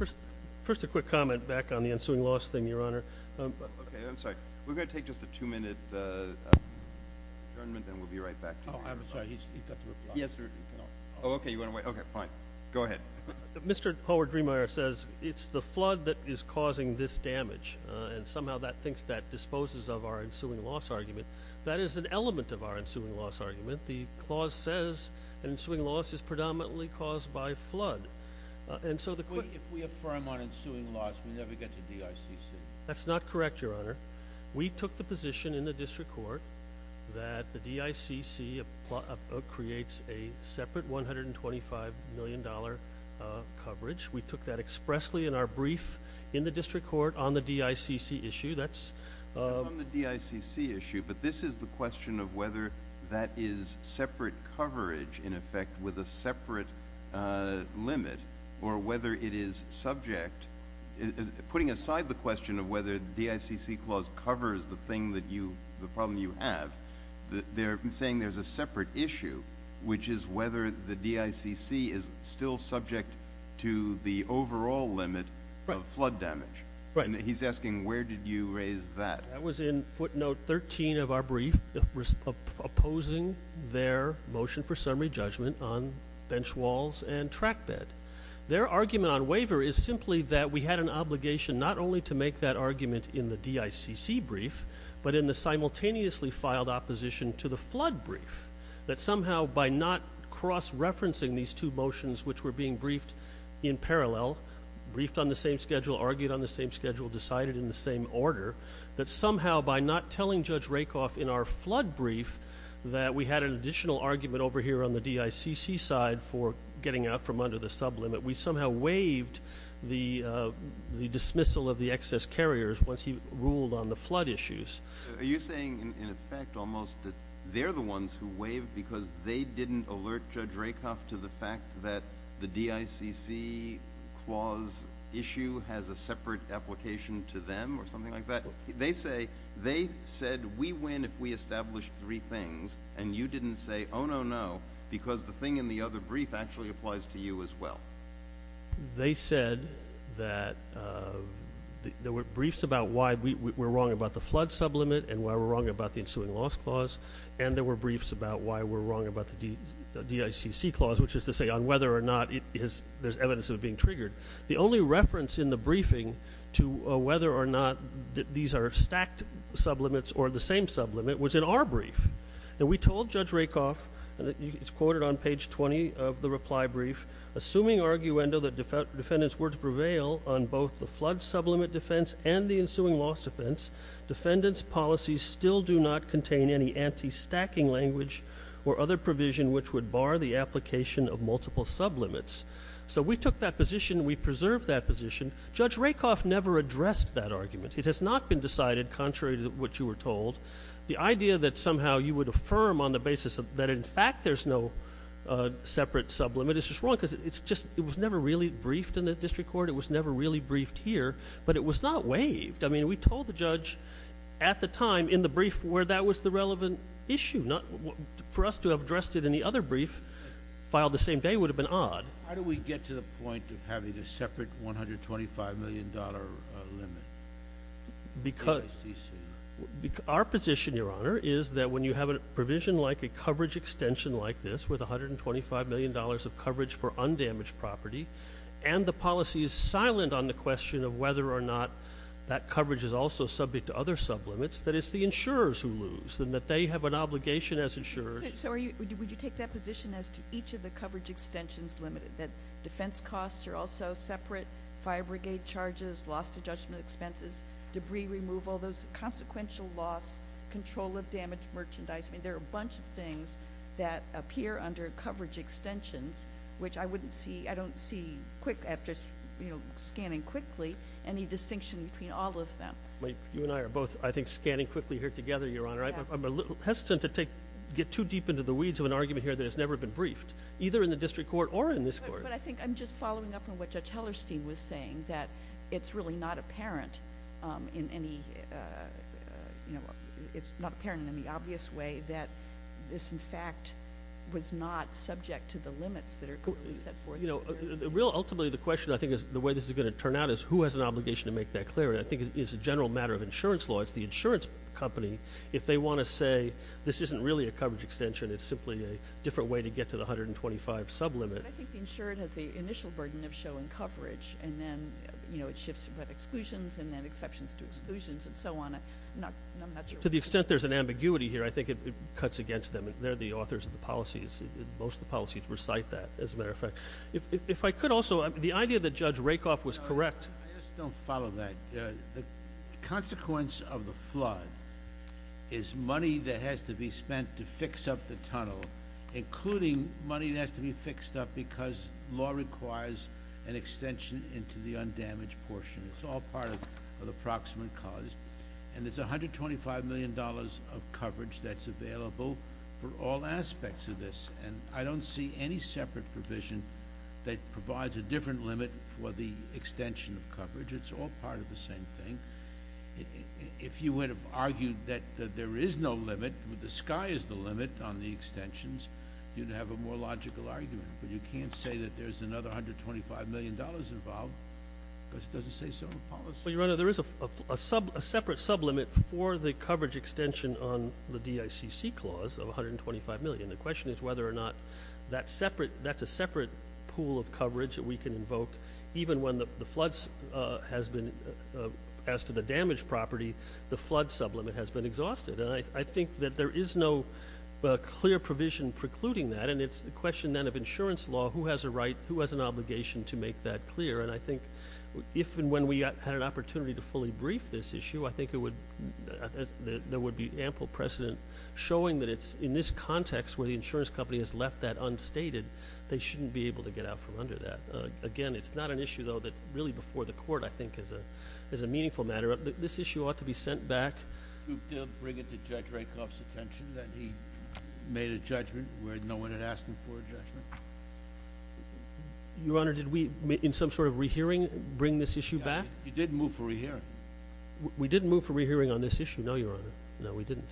All right. First, a quick comment back on the ensuing loss thing, Your Honor. Okay. I'm sorry. We're going to take just a two-minute adjournment and we'll be right back to you. Oh, I'm sorry. He's got to reply. Thank you. Thank you. Thank you. Thank you. Thank you. Thank you. Thank you. Thank you. Thank you. Thank you. Thank you. Thank you. Go ahead. Mr. Howard-Driemeier says it's the flood that is causing this damage and somehow that thinks that disposes of our ensuing loss argument. That is an element of our ensuing loss argument. The clause says an ensuing loss is predominantly caused by flood. And so the quick— If we affirm on ensuing loss, we never get to DICC. That's not correct, Your Honor. We took the position in the district court that the DICC creates a separate $125 million coverage. We took that expressly in our brief in the district court on the DICC issue. That's— That's on the DICC issue, but this is the question of whether that is separate coverage, in effect, with a separate limit or whether it is subject—putting aside the question of whether the DICC clause covers the thing that you—the problem you have, they're saying there's a separate issue, which is whether the DICC is still subject to the overall limit of flood damage. Right. And he's asking, where did you raise that? That was in footnote 13 of our brief, opposing their motion for summary judgment on bench walls and track bed. Their argument on waiver is simply that we had an obligation not only to make that argument in the DICC brief, but in the simultaneously filed opposition to the flood brief. That somehow by not cross-referencing these two motions, which were being briefed in parallel—briefed on the same schedule, argued on the same schedule, decided in the same order—that somehow by not telling Judge Rakoff in our flood brief that we had an additional argument over here on the DICC side for getting out from under the sublimit, we somehow waived the dismissal of the excess carriers once he ruled on the flood issues. Are you saying, in effect, almost that they're the ones who waived because they didn't alert Judge Rakoff to the fact that the DICC clause issue has a separate application to them or something like that? They say, they said, we win if we establish three things, and you didn't say, oh no, no, because the thing in the other brief actually applies to you as well. They said that there were briefs about why we were wrong about the flood sublimit and why we're wrong about the ensuing loss clause, and there were briefs about why we're wrong about the DICC clause, which is to say on whether or not there's evidence of it being triggered. The only reference in the briefing to whether or not these are stacked sublimits or the same sublimit was in our brief, and we told Judge Rakoff, and it's quoted on page 20 of the reply brief, assuming arguendo that defendant's words prevail on both the flood sublimit defense and the ensuing loss defense, defendant's policies still do not contain any anti-stacking language or other provision which would bar the application of multiple sublimits. So we took that position, we preserved that position. Judge Rakoff never addressed that argument. It has not been decided contrary to what you were told. The idea that somehow you would affirm on the basis that in fact there's no separate sublimit is just wrong because it was never really briefed in the district court, it was never really briefed here, but it was not waived. I mean, we told the judge at the time in the brief where that was the relevant issue. For us to have addressed it in the other brief, filed the same day, would have been odd. How do we get to the point of having a separate $125 million limit? Our position, Your Honor, is that when you have a provision like a coverage extension like this with $125 million of coverage for undamaged property, and the policy is silent on the question of whether or not that coverage is also subject to other sublimits, that it's the insurers who lose, and that they have an obligation as insurers. So would you take that position as to each of the coverage extensions limited, that defense costs are also separate, fire brigade charges, loss to judgment expenses, debris removal, those consequential loss, control of damaged merchandise. I mean, there are a bunch of things that appear under coverage extensions, which I don't see quick after scanning quickly, any distinction between all of them. You and I are both, I think, scanning quickly here together, Your Honor. I'm hesitant to get too deep into the weeds of an argument here that has never been briefed, either in the district court or in this court. But I think I'm just following up on what Judge Hellerstein was saying, that it's really not apparent in any, it's not apparent in any obvious way that this, in fact, was not subject to the limits that are currently set forth here. Ultimately, the question, I think, is the way this is going to turn out is who has an obligation to make that clear, and I think it's a general matter of insurance law. It's the insurance company. If they want to say, this isn't really a coverage extension, it's simply a different way to get to the 125 sublimit. But I think the insured has the initial burden of showing coverage, and then, you know, it shifts from exclusions, and then exceptions to exclusions, and so on, I'm not sure. To the extent there's an ambiguity here, I think it cuts against them. They're the authors of the policies. Most of the policies recite that, as a matter of fact. If I could also, the idea that Judge Rakoff was correct. I just don't follow that. The consequence of the flood is money that has to be spent to fix up the tunnel, including money that has to be fixed up because law requires an extension into the undamaged portion. It's all part of the proximate cause, and there's $125 million of coverage that's available for all aspects of this, and I don't see any separate provision that provides a different limit for the extension of coverage. It's all part of the same thing. If you would have argued that there is no limit, that the sky is the limit on the extensions, you'd have a more logical argument, but you can't say that there's another $125 million involved because it doesn't say so in the policy. Well, Your Honor, there is a separate sublimit for the coverage extension on the DICC clause of $125 million. The question is whether or not that's a separate pool of coverage that we can invoke, even when the floods has been, as to the damaged property, the flood sublimit has been exhausted. And I think that there is no clear provision precluding that, and it's a question then of insurance law. Who has a right, who has an obligation to make that clear? And I think if and when we had an opportunity to fully brief this issue, I think there would be ample precedent showing that it's in this context where the insurance company has left that unstated, they shouldn't be able to get out from under that. Again, it's not an issue, though, that's really before the court, I think, as a meaningful matter. This issue ought to be sent back. Do you think they'll bring it to Judge Rakoff's attention that he made a judgment where no one had asked him for a judgment? Your Honor, did we, in some sort of rehearing, bring this issue back? You didn't move for rehearing. We didn't move for rehearing on this issue, no, Your Honor. No, we didn't.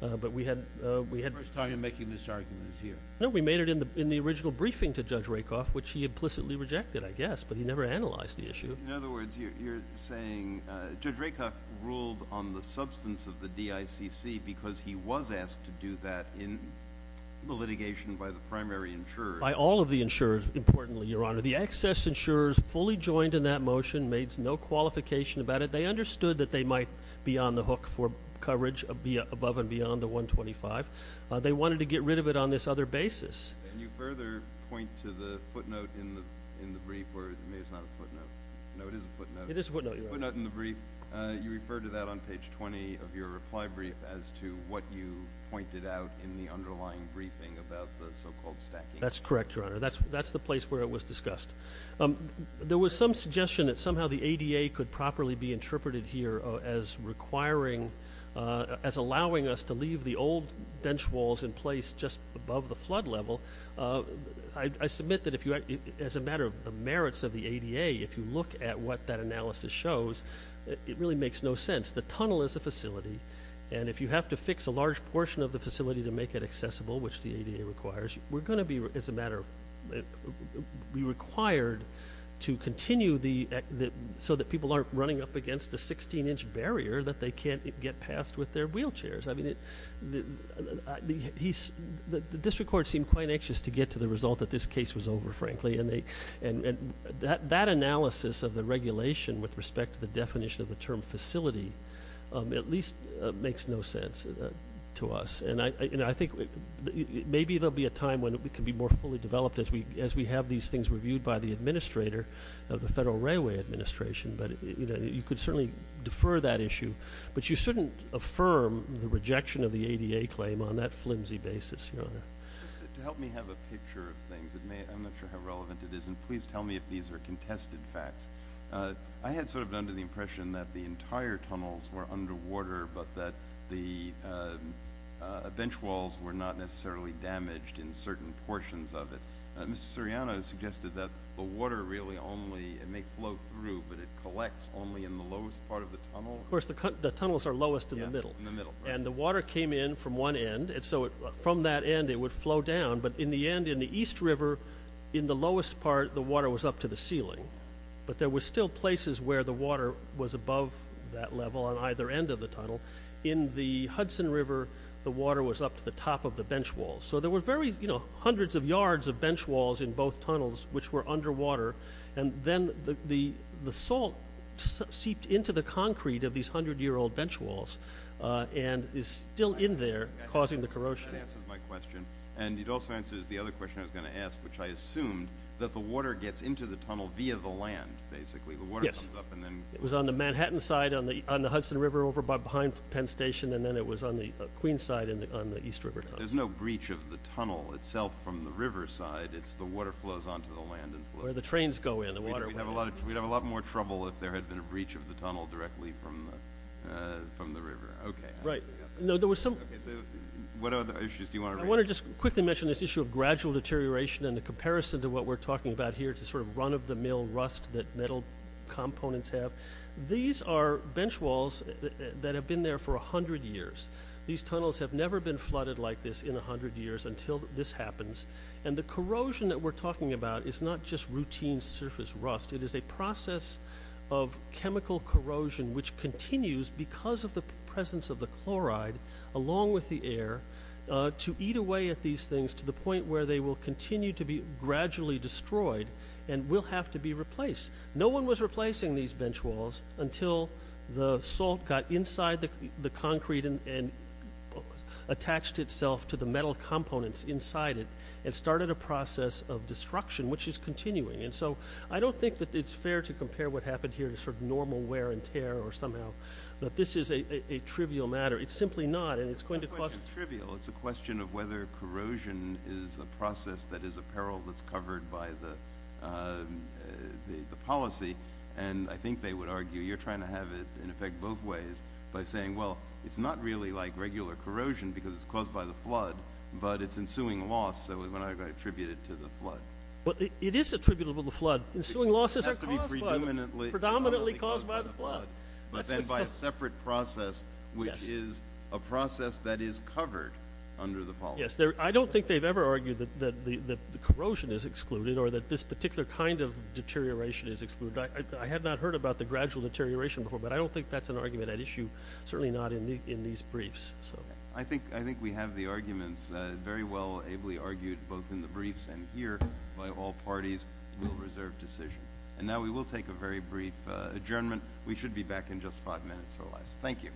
The first time you're making this argument is here. We made it in the original briefing to Judge Rakoff, which he implicitly rejected, I guess, but he never analyzed the issue. In other words, you're saying Judge Rakoff ruled on the substance of the DICC because he was asked to do that in the litigation by the primary insurer. By all of the insurers, importantly, Your Honor. The excess insurers fully joined in that motion, made no qualification about it. They understood that they might be on the hook for coverage above and beyond the 125. They wanted to get rid of it on this other basis. Can you further point to the footnote in the brief, or maybe it's not a footnote. No, it is a footnote. It is a footnote, Your Honor. A footnote in the brief. You referred to that on page 20 of your reply brief as to what you pointed out in the underlying briefing about the so-called stacking. That's correct, Your Honor. That's the place where it was discussed. There was some suggestion that somehow the ADA could properly be interpreted here as requiring, as allowing us to leave the old bench walls in place just above the flood level. I submit that as a matter of the merits of the ADA, if you look at what that analysis shows, it really makes no sense. The tunnel is a facility, and if you have to fix a large portion of the facility to make it accessible, which the ADA requires, we're going to be, as a matter, be required to continue so that people aren't running up against a 16-inch barrier that they can't get past with their wheelchairs. The district court seemed quite anxious to get to the result that this case was over, frankly, and that analysis of the regulation with respect to the definition of the term facility at least makes no sense to us. I think maybe there will be a time when it can be more fully developed as we have these things reviewed by the administrator of the Federal Railway Administration, but you could certainly defer that issue, but you shouldn't affirm the rejection of the ADA claim on that flimsy basis, Your Honor. To help me have a picture of things, I'm not sure how relevant it is, and please tell me if these are contested facts, I had sort of the impression that the entire tunnels were underwater, but that the bench walls were not necessarily damaged in certain portions of it. Mr. Suriano suggested that the water really only, it may flow through, but it collects only in the lowest part of the tunnel? Of course, the tunnels are lowest in the middle, and the water came in from one end, and so from that end it would flow down, but in the end, in the East River, in the lowest part, the water was up to the ceiling, but there were still places where the water was above that level on either end of the tunnel. In the Hudson River, the water was up to the top of the bench walls, so there were hundreds of yards of bench walls in both tunnels which were underwater, and then the salt seeped into the concrete of these hundred-year-old bench walls, and is still in there, causing the corrosion. That answers my question, and it also answers the other question I was going to ask, which I assumed, that the water gets into the tunnel via the land, basically, the water comes up and then- Yes. It was on the Manhattan side on the Hudson River over behind Penn Station, and then it was on the Queens side on the East River Tunnel. There's no breach of the tunnel itself from the river side, it's the water flows onto the land and flows- Where the trains go in, the water- We'd have a lot more trouble if there had been a breach of the tunnel directly from the river. Okay. Right. No, there was some- Okay, so what other issues do you want to raise? I want to just quickly mention this issue of gradual deterioration and the comparison to what we're talking about here, to sort of run-of-the-mill rust that metal components have. These are bench walls that have been there for a hundred years. These tunnels have never been flooded like this in a hundred years until this happens, and the corrosion that we're talking about is not just routine surface rust, it is a process of chemical corrosion which continues because of the presence of the chloride along with the air to eat away at these things to the point where they will continue to be gradually destroyed and will have to be replaced. No one was replacing these bench walls until the salt got inside the concrete and attached itself to the metal components inside it, and started a process of destruction which is continuing. And so I don't think that it's fair to compare what happened here to sort of normal wear and tear or somehow that this is a trivial matter. It's simply not, and it's going to cause- It's not trivial. It's a question of whether corrosion is a process that is a peril that's covered by the policy, and I think they would argue you're trying to have it in effect both ways by saying, well, it's not really like regular corrosion because it's caused by the flood, but it's ensuing loss, so we're not going to attribute it to the flood. But it is attributable to the flood. Ensuing loss is not caused by the flood. It has to be predominantly- Predominantly caused by the flood. That's what's- But then by a separate process which is a process that is covered under the policy. Yes. I don't think they've ever argued that corrosion is excluded or that this particular kind of deterioration is excluded. I have not heard about the gradual deterioration before, but I don't think that's an argument at issue, certainly not in these briefs. I think we have the arguments very well ably argued both in the briefs and here by all parties will reserve decision. And now we will take a very brief adjournment. We should be back in just five minutes or less. Thank you.